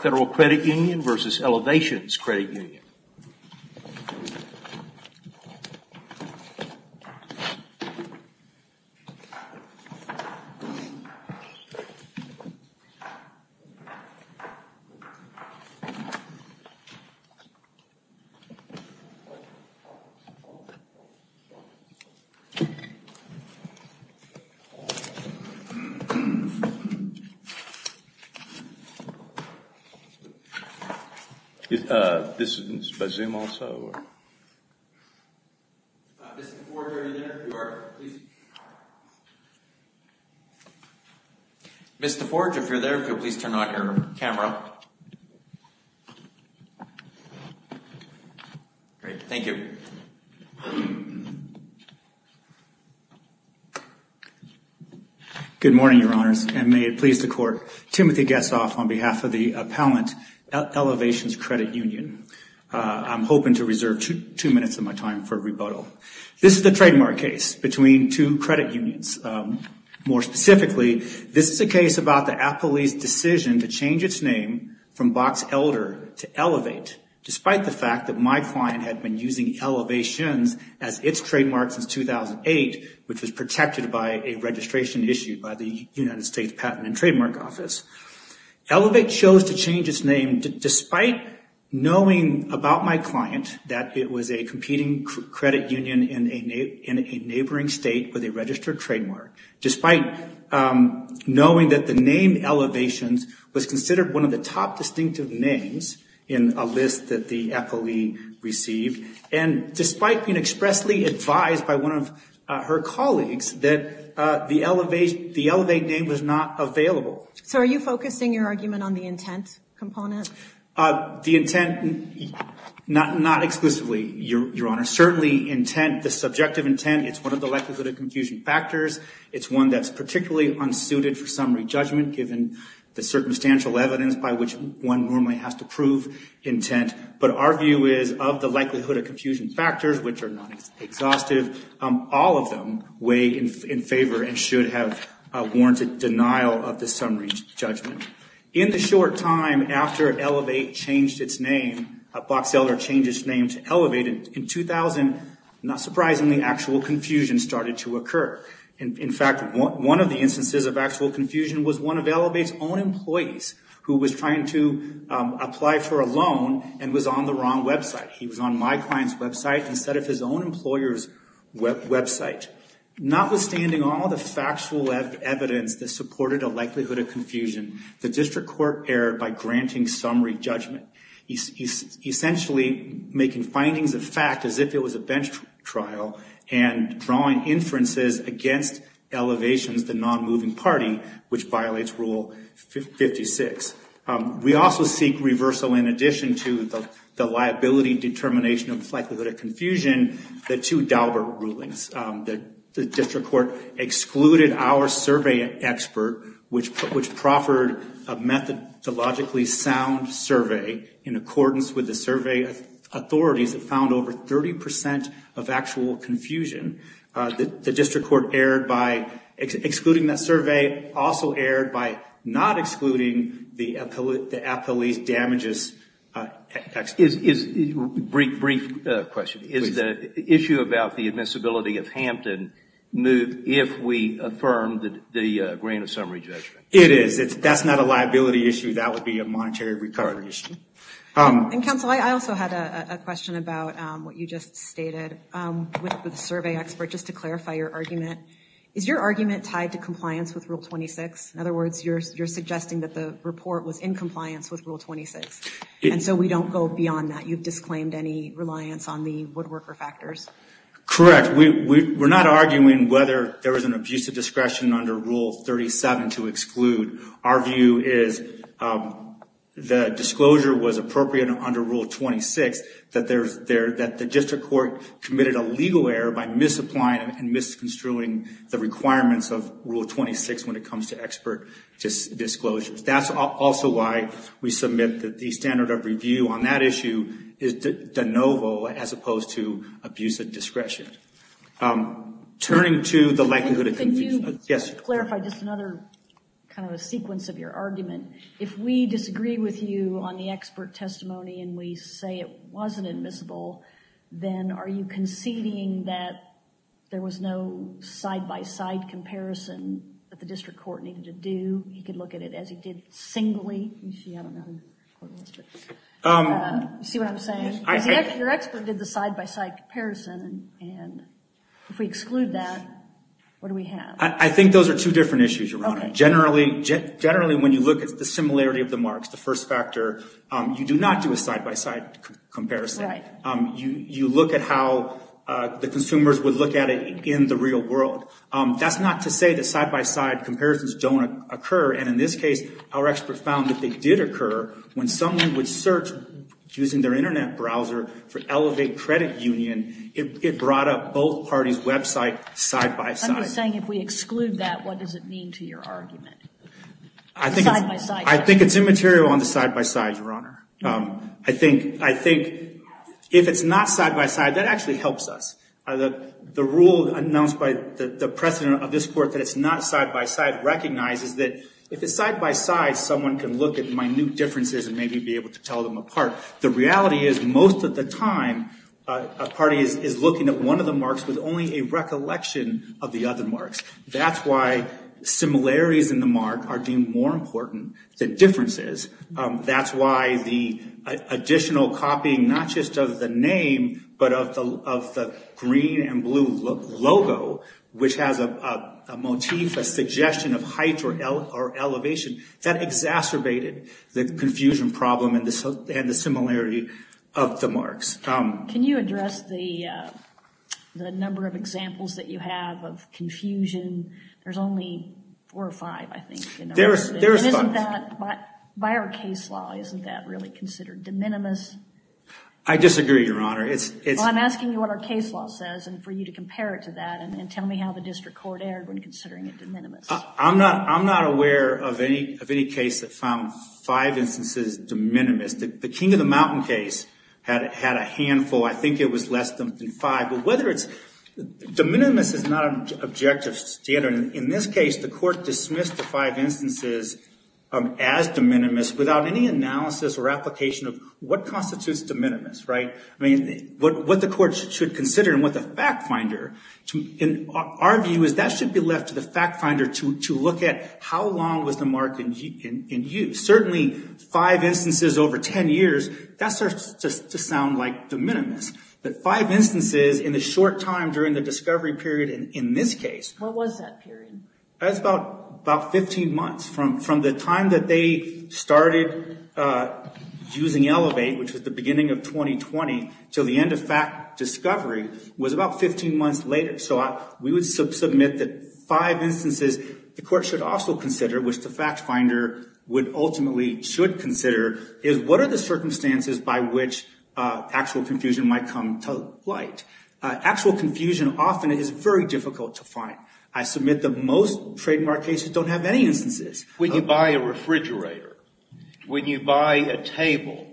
Federal Credit Union v. Elevations Credit Union. Mr. Forge, if you're there, could you please turn on your camera? Great. Thank you. Good morning, Your Honors, and may it please the Court, Timothy Gessoff on behalf of the appellant Elevations Credit Union. I'm hoping to reserve two minutes of my time for rebuttal. This is the trademark case between two credit unions. More specifically, this is a case about the appellee's decision to change its name from Box Elder to Elevate, despite the name Elevations as its trademark since 2008, which was protected by a registration issued by the United States Patent and Trademark Office. Elevate chose to change its name despite knowing about my client that it was a competing credit union in a neighboring state with a registered trademark, despite knowing that the name Elevations was considered one of the top distinctive names in a list that the appellee received, and despite being expressly advised by one of her colleagues that the Elevate name was not available. So are you focusing your argument on the intent component? The intent, not exclusively, Your Honor. Certainly, intent, the subjective intent, it's one of the likelihood of confusion factors. It's one that's particularly unsuited for summary judicial evidence by which one normally has to prove intent, but our view is of the likelihood of confusion factors, which are not exhaustive, all of them weigh in favor and should have a warranted denial of the summary judgment. In the short time after Elevate changed its name, Box Elder changed its name to Elevate, in 2000, not surprisingly, actual confusion started to occur. In fact, one of the instances of actual confusion was one of Elevate's own employees who was trying to apply for a loan and was on the wrong website. He was on my client's website instead of his own employer's website. Notwithstanding all the factual evidence that supported a likelihood of confusion, the district court erred by granting summary judgment, essentially making findings of fact as if it was a bench trial and drawing inferences against Elevate, the non-moving party, which violates Rule 56. We also seek reversal in addition to the liability determination of likelihood of confusion, the two Daubert rulings. The district court excluded our survey expert, which proffered a methodologically sound survey in accordance with the survey authorities that found over 30 percent of actual confusion. The district court erred by excluding that survey, also erred by not excluding the appellee's damages. Is, brief question, is the issue about the admissibility of Hampton moved if we affirmed the grant of summary judgment? It is. That's not a liability issue. That would be a monetary recovery issue. Counsel, I also had a question about what you just stated with the survey expert, just to clarify your argument. Is your argument tied to compliance with Rule 26? In other words, you're suggesting that the report was in compliance with Rule 26, and so we don't go beyond that. You've disclaimed any reliance on the woodworker factors. Correct. We're not arguing whether there was an abuse of discretion under Rule 37 to exclude. Our view is the disclosure was appropriate under Rule 26, that the district court committed a legal error by misapplying and misconstruing the requirements of Rule 26 when it comes to expert disclosures. That's also why we submit that the standard of review on that issue is de novo as opposed to abuse of discretion. Can you clarify just another sequence of your argument? If we disagree with you on the expert testimony and we say it wasn't admissible, then are you conceding that there was no side-by-side comparison that the district court needed to do? He could look at it as he did singly. You see what I'm saying? Your expert did the side-by-side comparison, and if we exclude that, what do we have? I think those are two different issues, Your Honor. Generally, when you look at the similarity of the marks, the first factor, you do not do a side-by-side comparison. You look at how the consumers would look at it in the real world. That's not to say that side-by-side comparisons don't occur, and in this case, our expert found that they did occur when someone would search using their internet browser for Elevate Credit Union. It brought up both parties' website side-by-side. I'm just saying if we exclude that, what does it mean to your argument? I think it's immaterial on the side-by-side, Your Honor. I think if it's not side-by-side, that actually helps us. The rule announced by the president of this court that it's not side-by-side recognizes that if it's side-by-side, someone can look at minute differences and maybe be able to tell them apart. The reality is most of the time, a party is looking at one of the marks with only a recollection of the other marks. That's why similarities in the mark are deemed more important than differences. That's why the additional copying, not just of the name, but of the green and blue logo, which has a motif, a suggestion of height or elevation, that exacerbated the confusion problem and the similarity of the marks. Can you address the number of examples that you have of confusion? There's only four or five, I think. There's five. By our case law, isn't that really considered de minimis? I disagree, Your Honor. I'm asking you what our case law says and for you to compare it to that and tell me how the district court erred when considering it de minimis. I'm not aware of any case that found five instances de minimis. The King of the Mountain case had a handful. I think it was less than five. De minimis is not an objective standard. In this case, the court dismissed the five instances as de minimis without any analysis or application of what constitutes de minimis, what the court should consider and what the fact finder should look at. How long was the mark in use? Certainly five instances over 10 years, that starts to sound like de minimis. Five instances in the short time during the discovery period in this case... What was that period? That's about 15 months from the time that they started using Elevate, which was the beginning of 2020, to the end of discovery was about 15 months later. We would submit that five instances the court should also consider, which the fact finder would ultimately should consider, is what are the circumstances by which actual confusion might come to light? Actual confusion often is very difficult to find. I submit that most trademark cases don't have any instances. When you buy a refrigerator, when you buy a table,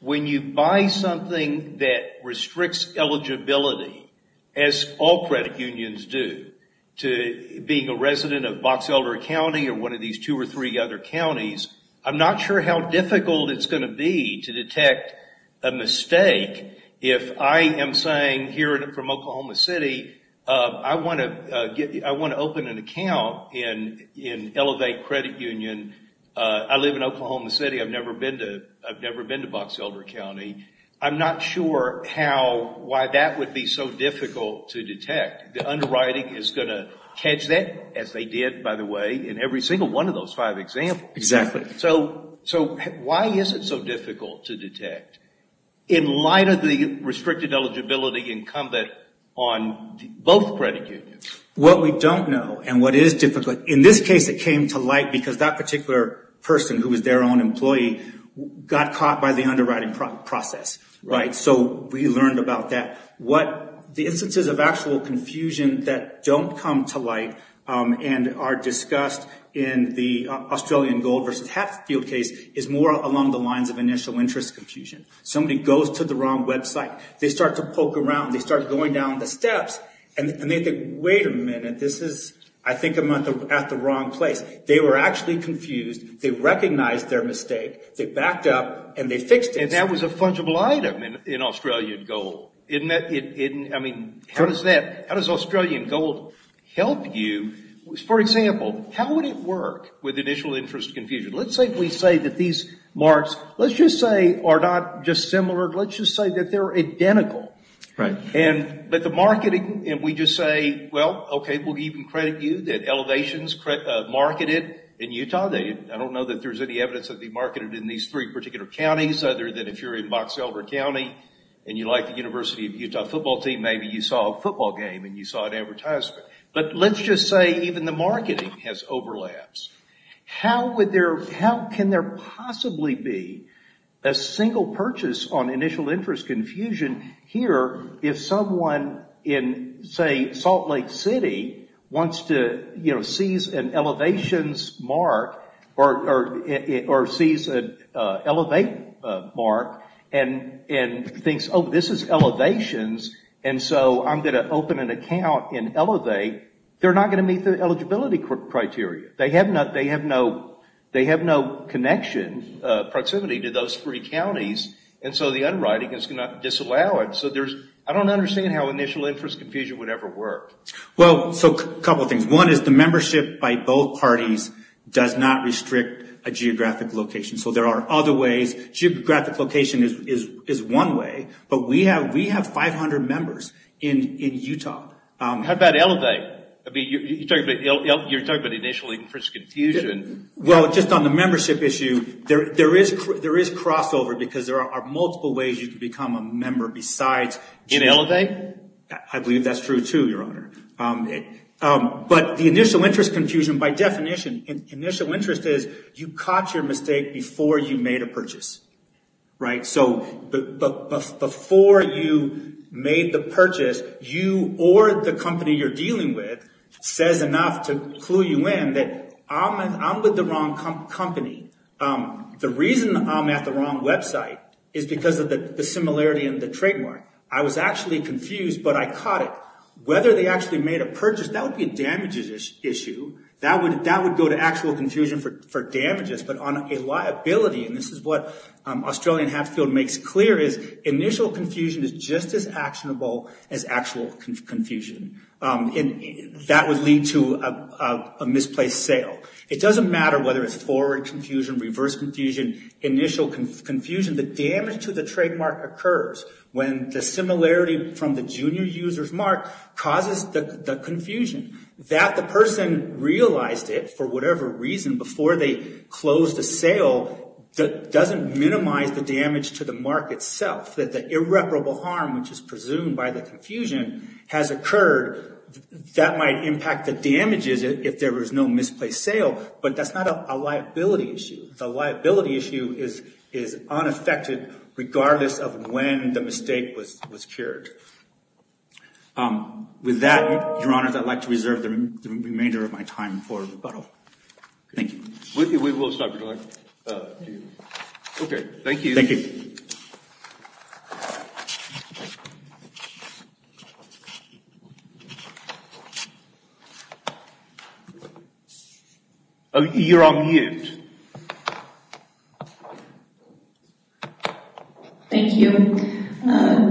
when you buy something that restricts eligibility, as all credit unions do, to being a resident of Box Elder County or one of these two or three other counties, I'm not sure how difficult it's going to be to detect a mistake if I am saying here from Oklahoma City, I want to open an account in Elevate Credit Union. I live in Oklahoma City. I've never been to Box Elder County. I'm not sure why that would be so difficult to detect. The underwriting is going to catch that, as they did, by the way, in every single one of those five examples. Why is it so difficult to detect in light of the restricted eligibility incumbent on both credit unions? What we don't know and what is difficult... In this case, it came to light because that we learned about that. The instances of actual confusion that don't come to light and are discussed in the Australian Gold versus Hatfield case is more along the lines of initial interest confusion. Somebody goes to the wrong website. They start to poke around. They start going down the steps and they think, wait a minute, this is... I think I'm at the wrong place. They were actually confused. They recognized their mistake. They backed up and they fixed it. That was a fungible item in Australian Gold. How does Australian Gold help you? For example, how would it work with initial interest confusion? Let's say we say that these marks, let's just say, are not just similar. Let's just say that they're identical. The marketing... We just say, well, okay, we'll even credit you that Elevation is marketed in Utah. I don't know that there's any evidence that they're marketed in these three particular counties, other than if you're in Box Elber County and you like the University of Utah football team, maybe you saw a football game and you saw an advertisement. Let's just say even the marketing has overlaps. How can there possibly be a single purchase on initial interest confusion here if someone in, say, Salt Lake City wants to seize an Elevate mark and thinks, oh, this is Elevation's, and so I'm going to open an account in Elevate. They're not going to meet the eligibility criteria. They have no connection, proximity to those three counties, and so the underwriting is going to disallow it. I don't understand how initial interest confusion would ever work. A couple of things. One is the membership by both parties does not restrict a geographic location, so there are other ways. Geographic location is one way, but we have 500 members in Utah. How about Elevate? You're talking about initial interest confusion. Well, just on the membership issue, there is crossover because there are multiple ways you can become a member besides... In Elevate? I believe that's true, too, Your Honor. The initial interest confusion, by definition, initial interest is you caught your mistake before you made a purchase. Before you made the purchase, you or the company you're dealing with says enough to clue you in that I'm with the wrong company. The reason I'm at the wrong website is because of the similarity in the trademark. I was actually confused, but I caught it. Whether they actually made a purchase, that would be a damages issue. That would go to actual confusion for damages, but on a liability, and this is what Australian Hatfield makes clear, is initial confusion is just as actionable as actual confusion. That would lead to a misplaced sale. It doesn't matter whether it's forward confusion, reverse confusion, initial confusion. The damage to the trademark occurs when the similarity from the junior user's mark causes the confusion. That the person realized it for whatever reason before they closed the sale doesn't minimize the damage to the mark itself. The irreparable harm, which is presumed by the confusion, has occurred. That might impact the damages if there was no misplaced sale, but that's not a liability issue. The liability issue is unaffected regardless of when the mistake was cured. With that, Your Honour, I'd like to reserve the remainder of my time for rebuttal. Thank you. We will start with you. Okay, thank you. Thank you.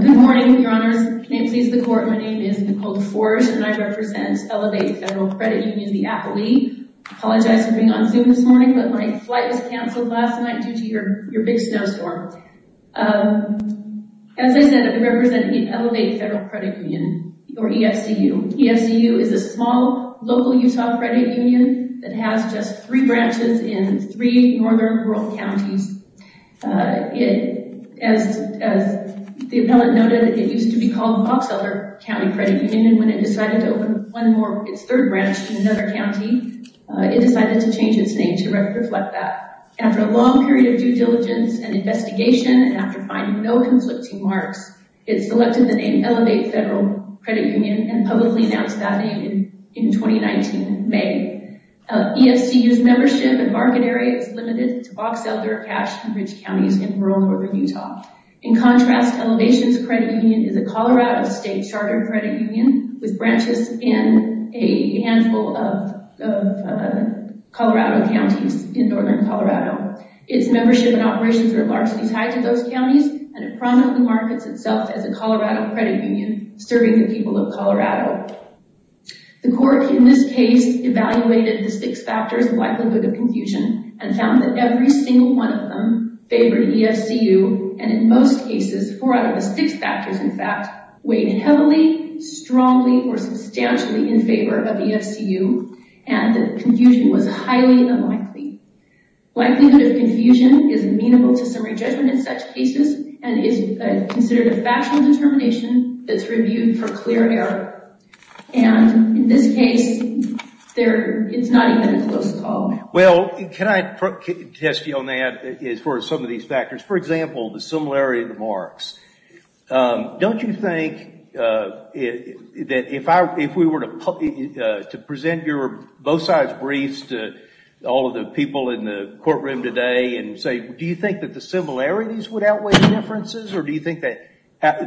Good morning, Your Honours. May it please the Court, my name is Nicole Forge and I represent Elevate Federal Credit Union, the Apple League. I apologize for being on Zoom this morning, but my flight was canceled last night due to your big snowstorm. As I said, I represent the Elevate Federal Credit Union, or EFCU. EFCU is a small, local Utah credit union that has just three branches in three northern rural counties. As the appellant noted, it used to be called Box Elder County Credit Union, and when it decided to open one more, its third branch in another county, it decided to change its name to reflect that. After a long period of due diligence and investigation, and after finding no conflicting marks, it selected the name Elevate Federal Credit Union and publicly announced that name in 2019 May. EFCU's membership and market area is limited to Box Elder, Cache, and Ridge counties in Colorado. Elevate Federal Credit Union is a Colorado state charter credit union with branches in a handful of Colorado counties in northern Colorado. Its membership and operations are largely tied to those counties, and it prominently markets itself as a Colorado credit union serving the people of Colorado. The Court, in this case, evaluated the six factors of likelihood of confusion, and found that every single one of them favored EFCU, and in most cases, four out of the six factors, in fact, weighed heavily, strongly, or substantially in favor of EFCU, and that confusion was highly unlikely. Likelihood of confusion is amenable to summary judgment in such cases, and is considered a factual determination that's reviewed for clear error, and in this case, it's not even a close call. Well, can I test you on that as far as some of these factors? For example, the similarity of the marks. Don't you think that if we were to present your both sides briefs to all of the people in the courtroom today and say, do you think that the similarities would outweigh the differences, or do you think that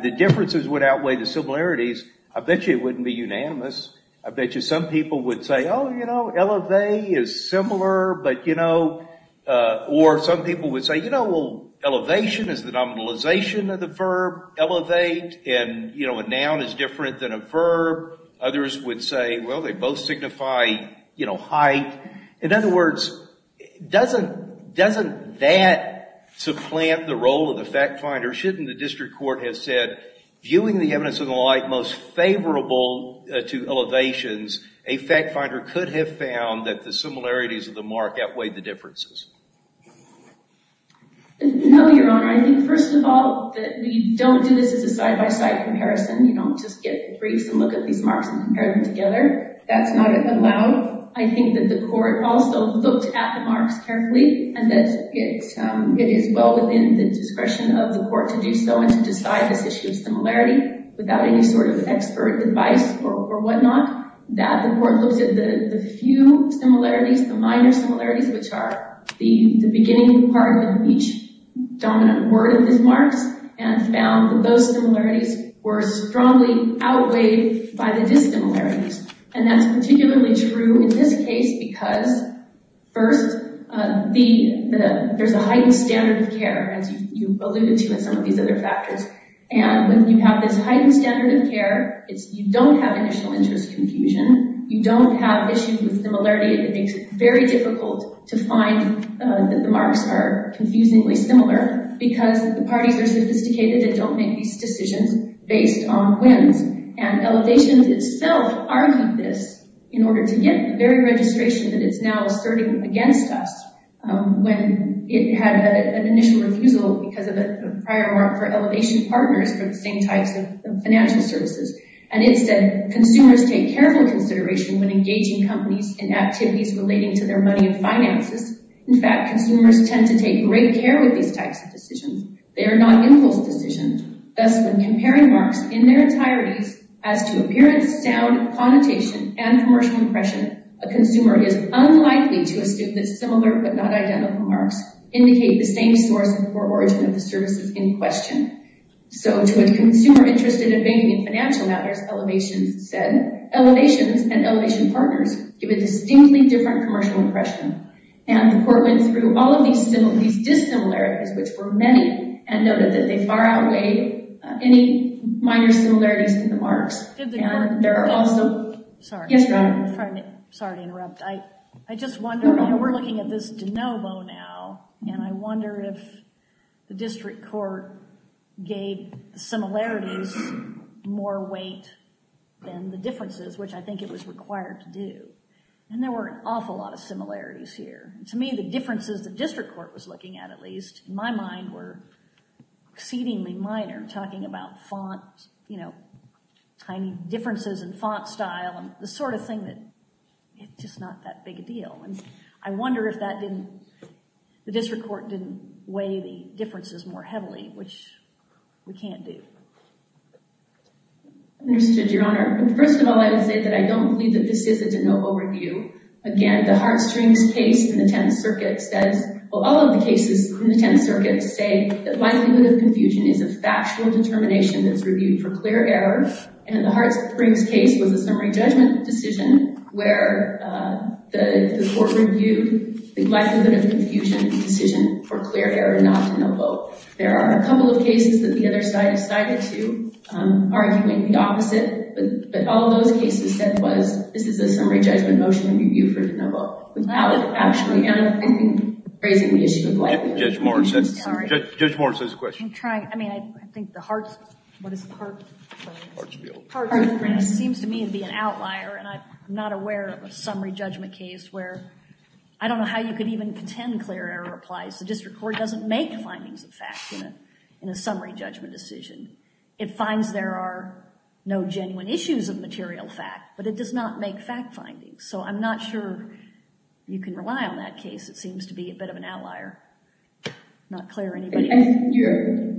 the differences would outweigh the similarities, I bet you it wouldn't be unanimous. I bet you some people would say, oh, you know, Elevate is similar, but, you know, or some people would say, you know, well, Elevation is the nominalization of the verb, Elevate, and, you know, a noun is different than a verb. Others would say, well, they both signify, you know, height. In other words, doesn't that supplant the role of the fact finder? Shouldn't the district court have said, viewing the evidence of the like most favorable to Elevation's, a fact finder could have found that the similarities of the mark outweighed the differences? No, Your Honor. I think, first of all, that we don't do this as a side-by-side comparison. You don't just get briefs and look at these marks and compare them together. That's not allowed. I think that the court also looked at the marks carefully and that it is well in the discretion of the court to do so and to decide this issue of similarity without any sort of expert advice or whatnot. That the court looks at the few similarities, the minor similarities, which are the beginning part of each dominant word of these marks and found that those similarities were strongly outweighed by the dissimilarities. And that's you alluded to in some of these other factors. And when you have this heightened standard of care, you don't have initial interest confusion. You don't have issues with similarity. It makes it very difficult to find that the marks are confusingly similar because the parties are sophisticated and don't make these decisions based on wins. And Elevation itself argued this in order to get the very registration that it's now asserting against us when it had an initial refusal because of a prior mark for Elevation partners for the same types of financial services. And it said, consumers take careful consideration when engaging companies in activities relating to their money and finances. In fact, consumers tend to take great care with these types of decisions. They are not impulse decisions. Thus, when comparing marks in their entireties as to appearance, sound, connotation, and commercial impression, a consumer is unlikely to assume that similar but not identical marks indicate the same source or origin of the services in question. So, to a consumer interested in banking and financial matters, Elevation said, Elevation and Elevation partners give a distinctly different commercial impression. And the court went through all of these similarities, dissimilarities, which were many, and noted that they far outweigh any minor similarities in the marks. And there are also... Yes, go ahead. Sorry to interrupt. I just wonder, you know, we're looking at this de novo now, and I wonder if the district court gave the similarities more weight than the differences, which I think it was required to do. And there were an awful lot of similarities here. To me, the differences the district court was looking at, at least, in my mind, were exceedingly minor, talking about font, you know, tiny differences in font style, and the sort of thing that... It's just not that big a deal. And I wonder if that didn't... The district court didn't weigh the differences more heavily, which we can't do. Understood, Your Honor. But first of all, I would say that I don't believe that this is a de novo review. Again, the Hart-Strings case in the Tenth Circuit says... Well, all of the cases in the Tenth Circuit say that likelihood of confusion is a factual determination that's reviewed for clear error. And the Hart-Springs case was a summary judgment decision where the court reviewed the likelihood of confusion decision for clear error, not de novo. There are a couple of cases that the other side has sided to, arguing the opposite. But all those cases said was, this is a summary judgment motion in review for de novo. That would actually end up raising the issue of likelihood of confusion. Judge Morris has a question. I'm trying. I mean, I think the Hart... What is the Hart-Springs? Hart-Springs. Hart-Springs seems to me to be an outlier, and I'm not aware of a summary judgment case where... I don't know how you could even contend clear error applies. The district court doesn't make findings of facts in a summary judgment decision. It finds there are no genuine issues of material fact, but it does not make fact findings. So I'm not sure you can rely on that case. It seems to be a bit of an outlier. Not clear, anybody? I think you're...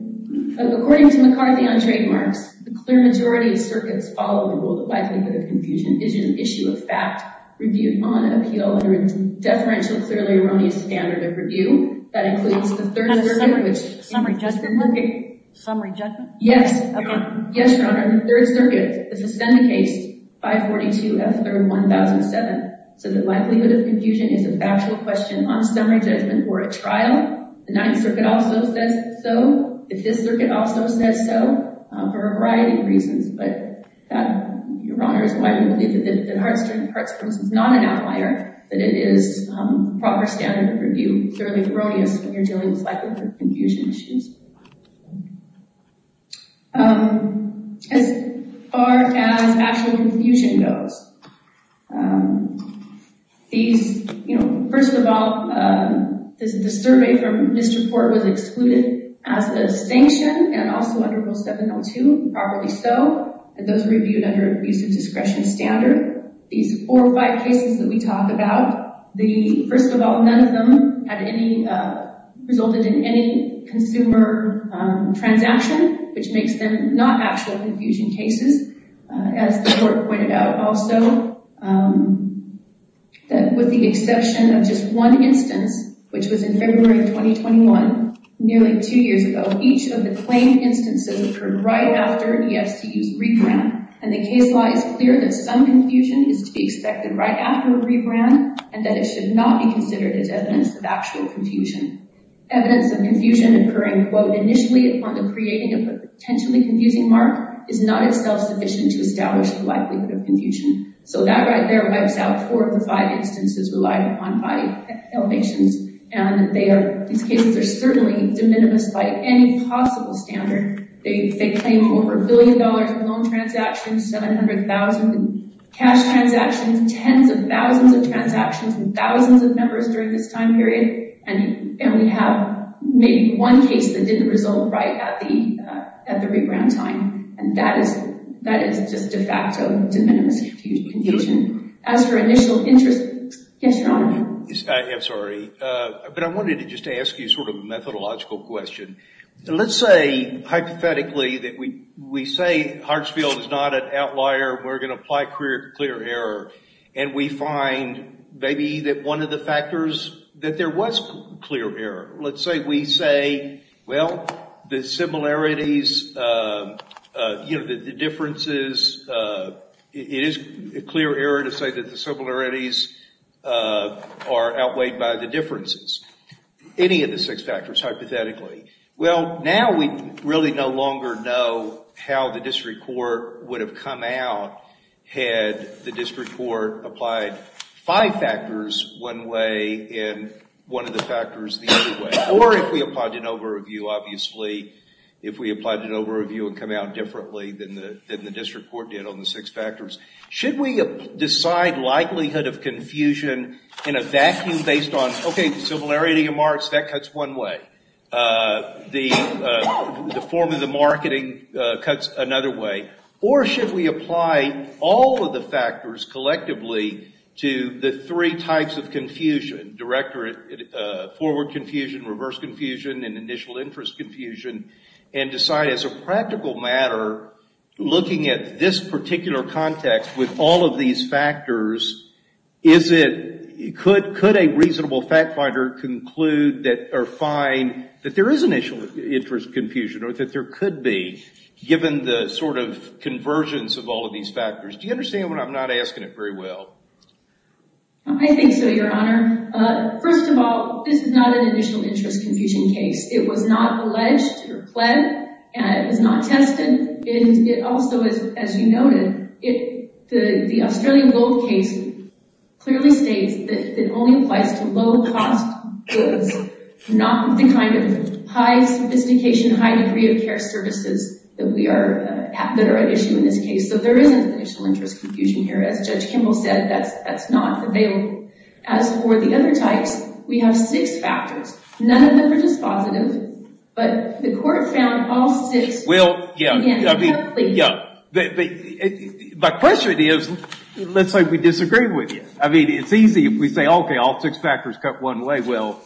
According to McCarthy on trademarks, the clear majority of circuits follow the rule that likelihood of confusion is an issue of fact reviewed on appeal under a deferential clearly erroneous standard of review. That includes the Third Circuit, which... On a summary judgment? Summary judgment? Yes. Okay. Yes, Your Honor. In the Third Circuit, the suspended case 542F3-1007 says that likelihood of confusion is a factual question on summary judgment for a trial. The Ninth Circuit also says so. The Fifth Circuit also says so, for a variety of reasons. But that, Your Honor, is why we believe that Hart-Springs is not an outlier, that it is proper standard of review, clearly erroneous when you're dealing with likelihood of confusion issues. As far as actual confusion goes, first of all, the survey from this report was excluded as a sanction and also under Rule 702, properly so, and those reviewed under abusive discretion standard. These four or five cases that we talk about, first of all, none of them resulted in any consumer transaction, which makes them not actual confusion cases. As the court pointed out also, that with the exception of just one instance, which was in February of 2021, nearly two years ago, each of the claimed instances occurred right after EFCU's rebrand, and the case law is clear that some confusion is to be expected right after a case, and that evidence of confusion occurring, quote, initially upon the creating of a potentially confusing mark is not itself sufficient to establish the likelihood of confusion. So that right there wipes out four of the five instances relied upon by elevations, and they are, these cases are certainly de minimis by any possible standard. They claim over a billion dollars in loan transactions, 700,000 in cash transactions, tens of thousands of dollars, maybe one case that didn't result right at the rebrand time, and that is just de facto de minimis confusion. As for initial interest, yes, Your Honor. I am sorry, but I wanted to just ask you sort of a methodological question. Let's say hypothetically that we say Hartsfield is not an outlier, we're going to apply clear error, and we find maybe that one of the factors that there was clear error. Let's say we say, well, the similarities, you know, the differences, it is clear error to say that the similarities are outweighed by the differences. Any of the six factors, hypothetically. Well, now we really no longer know how the district court would have come out had the district court applied five factors one way and one of the factors the other way, or if we applied an over-review, obviously, if we applied an over-review and come out differently than the district court did on the six factors. Should we decide likelihood of confusion in a vacuum based on, okay, the similarity of marks, that cuts one way. The form of the three types of confusion, direct or forward confusion, reverse confusion, and initial interest confusion, and decide as a practical matter, looking at this particular context with all of these factors, is it, could a reasonable fact finder conclude that, or find that there is initial interest confusion, or that there could be, given the sort of I think so, your honor. First of all, this is not an initial interest confusion case. It was not alleged or pled, and it was not tested, and it also, as you noted, the Australian Gold case clearly states that it only applies to low cost goods, not the kind of high sophistication, high degree of care services that are at issue in this case, so there isn't initial interest confusion here. As Judge Kimball said, that's not available. As for the other types, we have six factors. None of them are dispositive, but the court found all six. Well, yeah, but my question is, let's say we disagree with you. I mean, it's easy if we say, okay, all six factors cut one way. Well,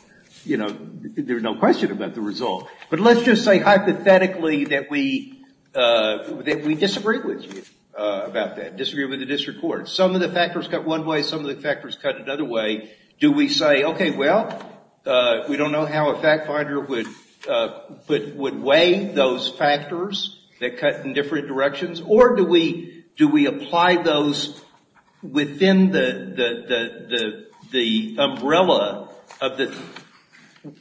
you know, there's no question about the result, but let's just say hypothetically that we disagree with you about that, disagree with the district court. Some of the factors cut one way, some of the factors cut another way. Do we say, okay, well, we don't know how a fact finder would weigh those factors that cut in different directions, or do we apply those within the umbrella of the,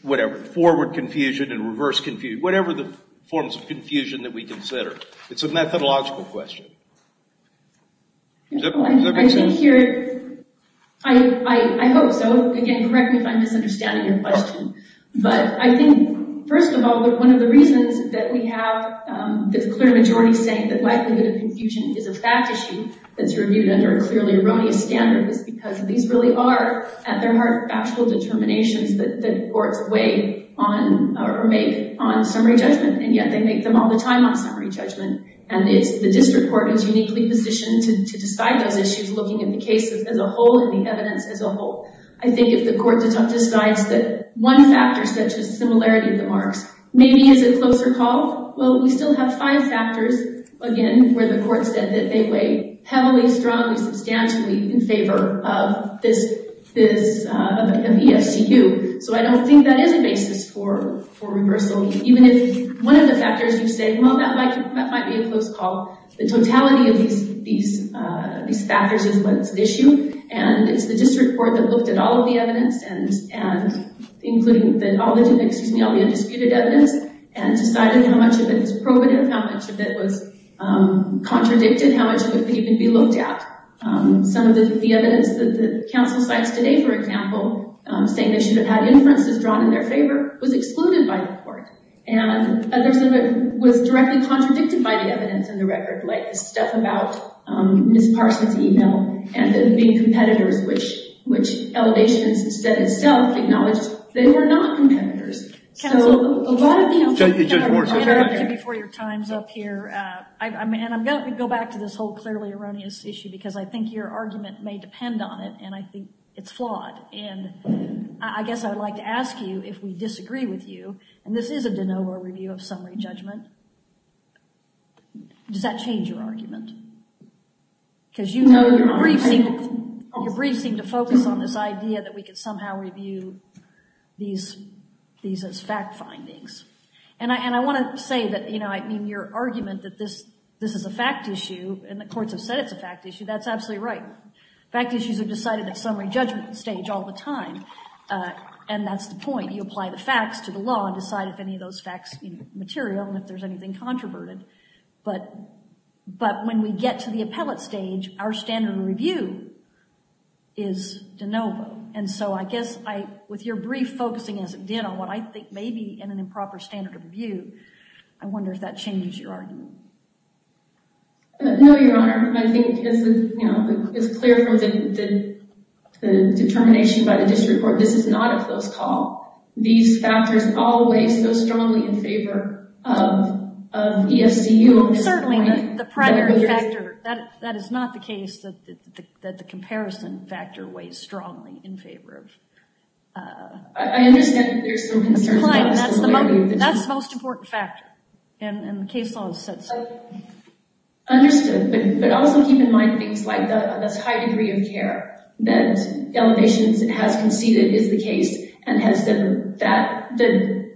whatever, forward confusion and reverse confusion, whatever the forms of confusion that we consider. It's a methodological question. I think here, I hope so. Again, correct me if I'm misunderstanding your question, but I think, first of all, one of the reasons that we have this clear majority saying that likelihood of confusion is a fact issue that's reviewed under a clearly erroneous standard is because these really are, at their heart, factual determinations that courts weigh or make on summary judgment, and yet they make them all the time on summary judgment, and the district court is uniquely positioned to decide those issues looking at the cases as a whole and the evidence as a whole. I think if the court decides that one factor such as similarity of the marks maybe is a closer call, well, we still have five factors, again, where the court said that they weigh heavily, strongly, substantially in favor of this MESCQ, so I don't think that is a basis for reversal, even if one of the factors you say, well, that might be a close call, the totality of these factors is what's at issue, and it's the district court that looked at all of the evidence, including all the undisputed evidence, and decided how much of it is probative, how much of it was contradicted, how much of it would even be looked at. Some of the evidence that the counsel cites today, for example, saying they should have had inferences drawn in their favor was excluded by the court, and others of it was directly contradicted by the evidence in the record, like the stuff about Ms. Parsons' email and the big competitors, which elevations said itself acknowledged they were not competitors. Judge Warren. Before your time's up here, and I'm going to go back to this whole clearly erroneous issue, because I think your argument may depend on it, and I think it's flawed, and I guess I would like to ask you, if we disagree with you, and this is a de novo review of summary judgment, does that change your argument? Because your brief seemed to focus on this issue, these as fact findings. And I want to say that your argument that this is a fact issue, and the courts have said it's a fact issue, that's absolutely right. Fact issues are decided at summary judgment stage all the time, and that's the point. You apply the facts to the law and decide if any of those facts are material and if there's anything controverted. But when we get to the appellate stage, our standard of review is de novo. And so I guess with your brief focusing as it did on what I think may be an improper standard of review, I wonder if that changes your argument. No, Your Honor. I think it's clear from the determination by the district court, this is not a close call. These factors all weigh so strongly in favor of EFCU. Certainly, the primary factor, that is not the case that the comparison factor weighs strongly in favor of EFCU. I understand that there's some concerns about the stability of the district. That's the most important factor, and the case law has said so. Understood. But also keep in mind things like the high degree of care that elevations has conceded is the case, and has said that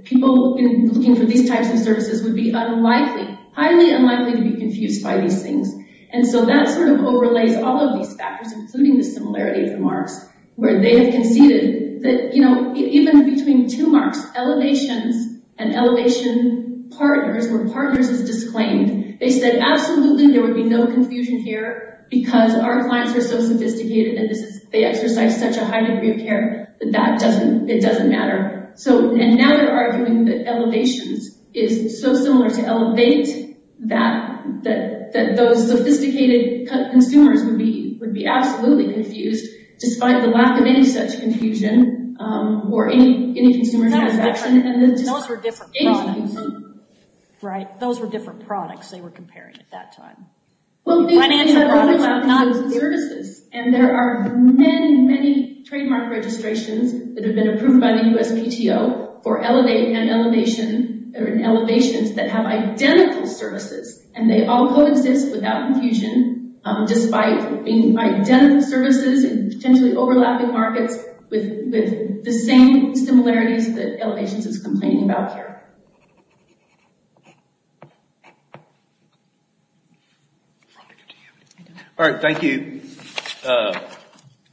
people looking for these types of services would be highly unlikely to be confused by these things. And so that sort of overlays all of these factors, including the similarity of the marks where they have conceded that even between two marks, elevations and elevation partners, where partners is disclaimed, they said absolutely there would be no confusion here because our clients are so sophisticated and they exercise such a high degree of care that it doesn't matter. And now they're arguing that elevations is so similar to elevate that those sophisticated consumers would be absolutely confused, despite the lack of any such confusion or any consumer satisfaction. Those were different products they were comparing at that time. Financial products, not services. And there are many, many trademark registrations that have been approved by the USPTO for elevate and elevations that have identical services, and they all coexist without confusion, despite being identical services and potentially overlapping markets with the same similarities that elevations is complaining about here. All right. Thank you. Thank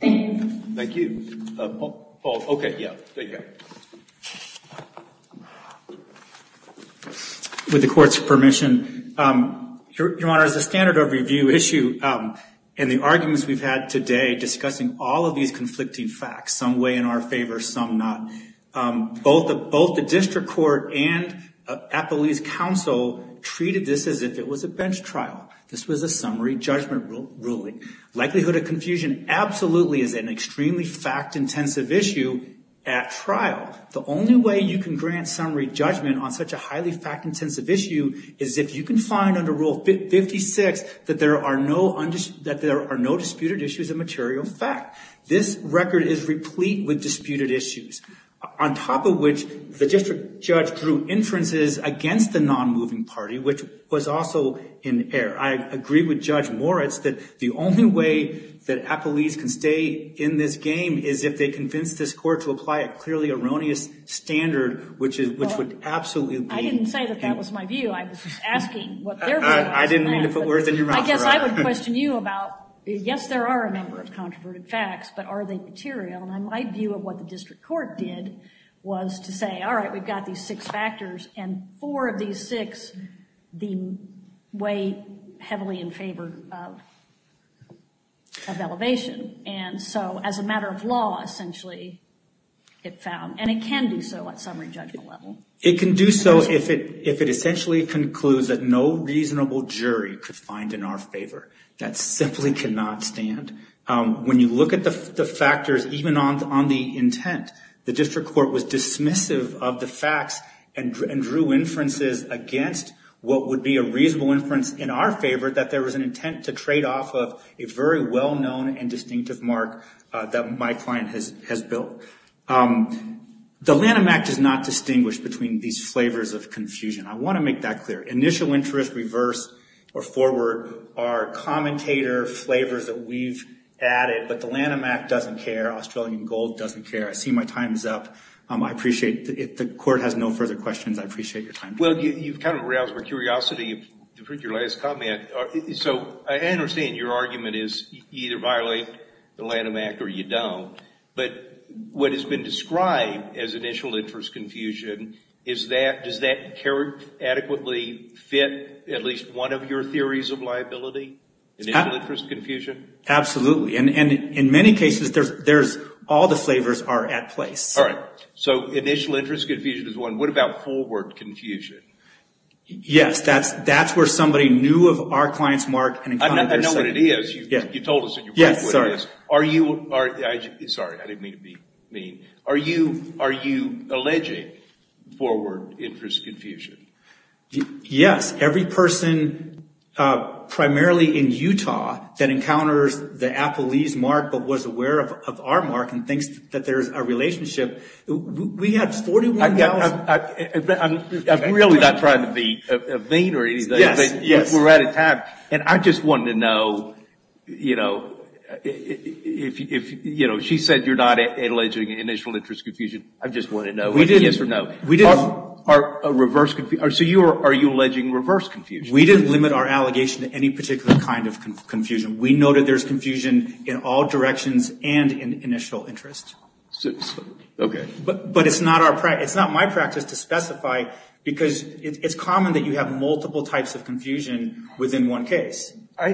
you. Thank you. OK. Yeah. Thank you. With the court's permission, Your Honor, as a standard of review issue and the arguments we've had today discussing all of these conflicting facts, some way in our favor, some not, both the district court and Appellee's counsel treated this as if it was a bench trial. This was a summary judgment ruling. Likelihood of confusion absolutely is an extremely fact-intensive issue at trial. The only way you can grant summary judgment on such a highly fact-intensive issue is if you can find under Rule 56 that there are no disputed issues of material fact. This record is replete with disputed issues. On top of which, the district judge drew inferences against the non-moving party, which was also in error. I agree with Judge Moritz that the only way that Appellee's can stay in this game is if they convince this court to apply a clearly erroneous standard, which would absolutely be the case. I didn't say that that was my view. I was just asking what their view was. I didn't mean to put words in your mouth, Your Honor. I guess I would question you about, yes, there are a number of controverted facts, but are they material? My view of what the district court did was to say, all right, we've got these six factors, and four of these six weigh heavily in favor of elevation. And so as a matter of law, essentially, it found, and it can do so at summary judgment level. It can do so if it essentially concludes that no reasonable jury could find in our favor. That simply cannot stand. When you look at the factors, even on the intent, the district court was dismissive of the facts and drew inferences against what would be a reasonable inference in our favor, that there was an intent to trade off of a very well-known and distinctive mark that my client has built. The Lanham Act does not distinguish between these flavors of confusion. I want to make that clear. Initial interest, reverse, or forward are commentator flavors that we've added, but the Lanham Act doesn't care. Australian Gold doesn't care. I see my time is up. I appreciate it. The court has no further questions. I appreciate your time. Well, you've kind of aroused my curiosity with your last comment. So I understand your argument is you either violate the Lanham Act or you don't. But what has been described as initial interest confusion, does that adequately fit at least one of your theories of liability, initial interest confusion? Absolutely. And in many cases, all the flavors are at place. All right. So initial interest confusion is one. What about forward confusion? Yes. That's where somebody knew of our client's mark. I know what it is. You told us what it is. Sorry, I didn't mean to be mean. Are you alleging forward interest confusion? Yes. Every person, primarily in Utah, that encounters the Applebee's mark but was aware of our mark and thinks that there's a relationship, we have 41,000. I'm really not trying to be vain or anything. Yes. We're out of time. And I just wanted to know, you know, she said you're not alleging initial interest confusion. I just wanted to know. We didn't. So are you alleging reverse confusion? We didn't limit our allegation to any particular kind of confusion. We know that there's confusion in all directions and in initial interest. Okay. But it's not my practice to specify because it's common that you have multiple types of confusion within one case. I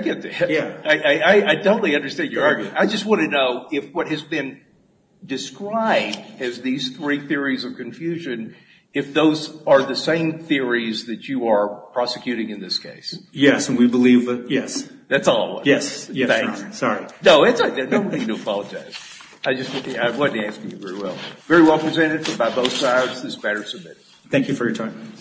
get that. Yeah. I totally understand your argument. I just want to know if what has been described as these three theories of confusion, if those are the same theories that you are prosecuting in this case. Yes, and we believe that. Yes. That's all I want to know. Yes. Yes, Your Honor. Thanks. Sorry. No, it's okay. I don't mean to apologize. I just wasn't asking you very well. Very well presented by both sides. This matter is submitted. Thank you for your time.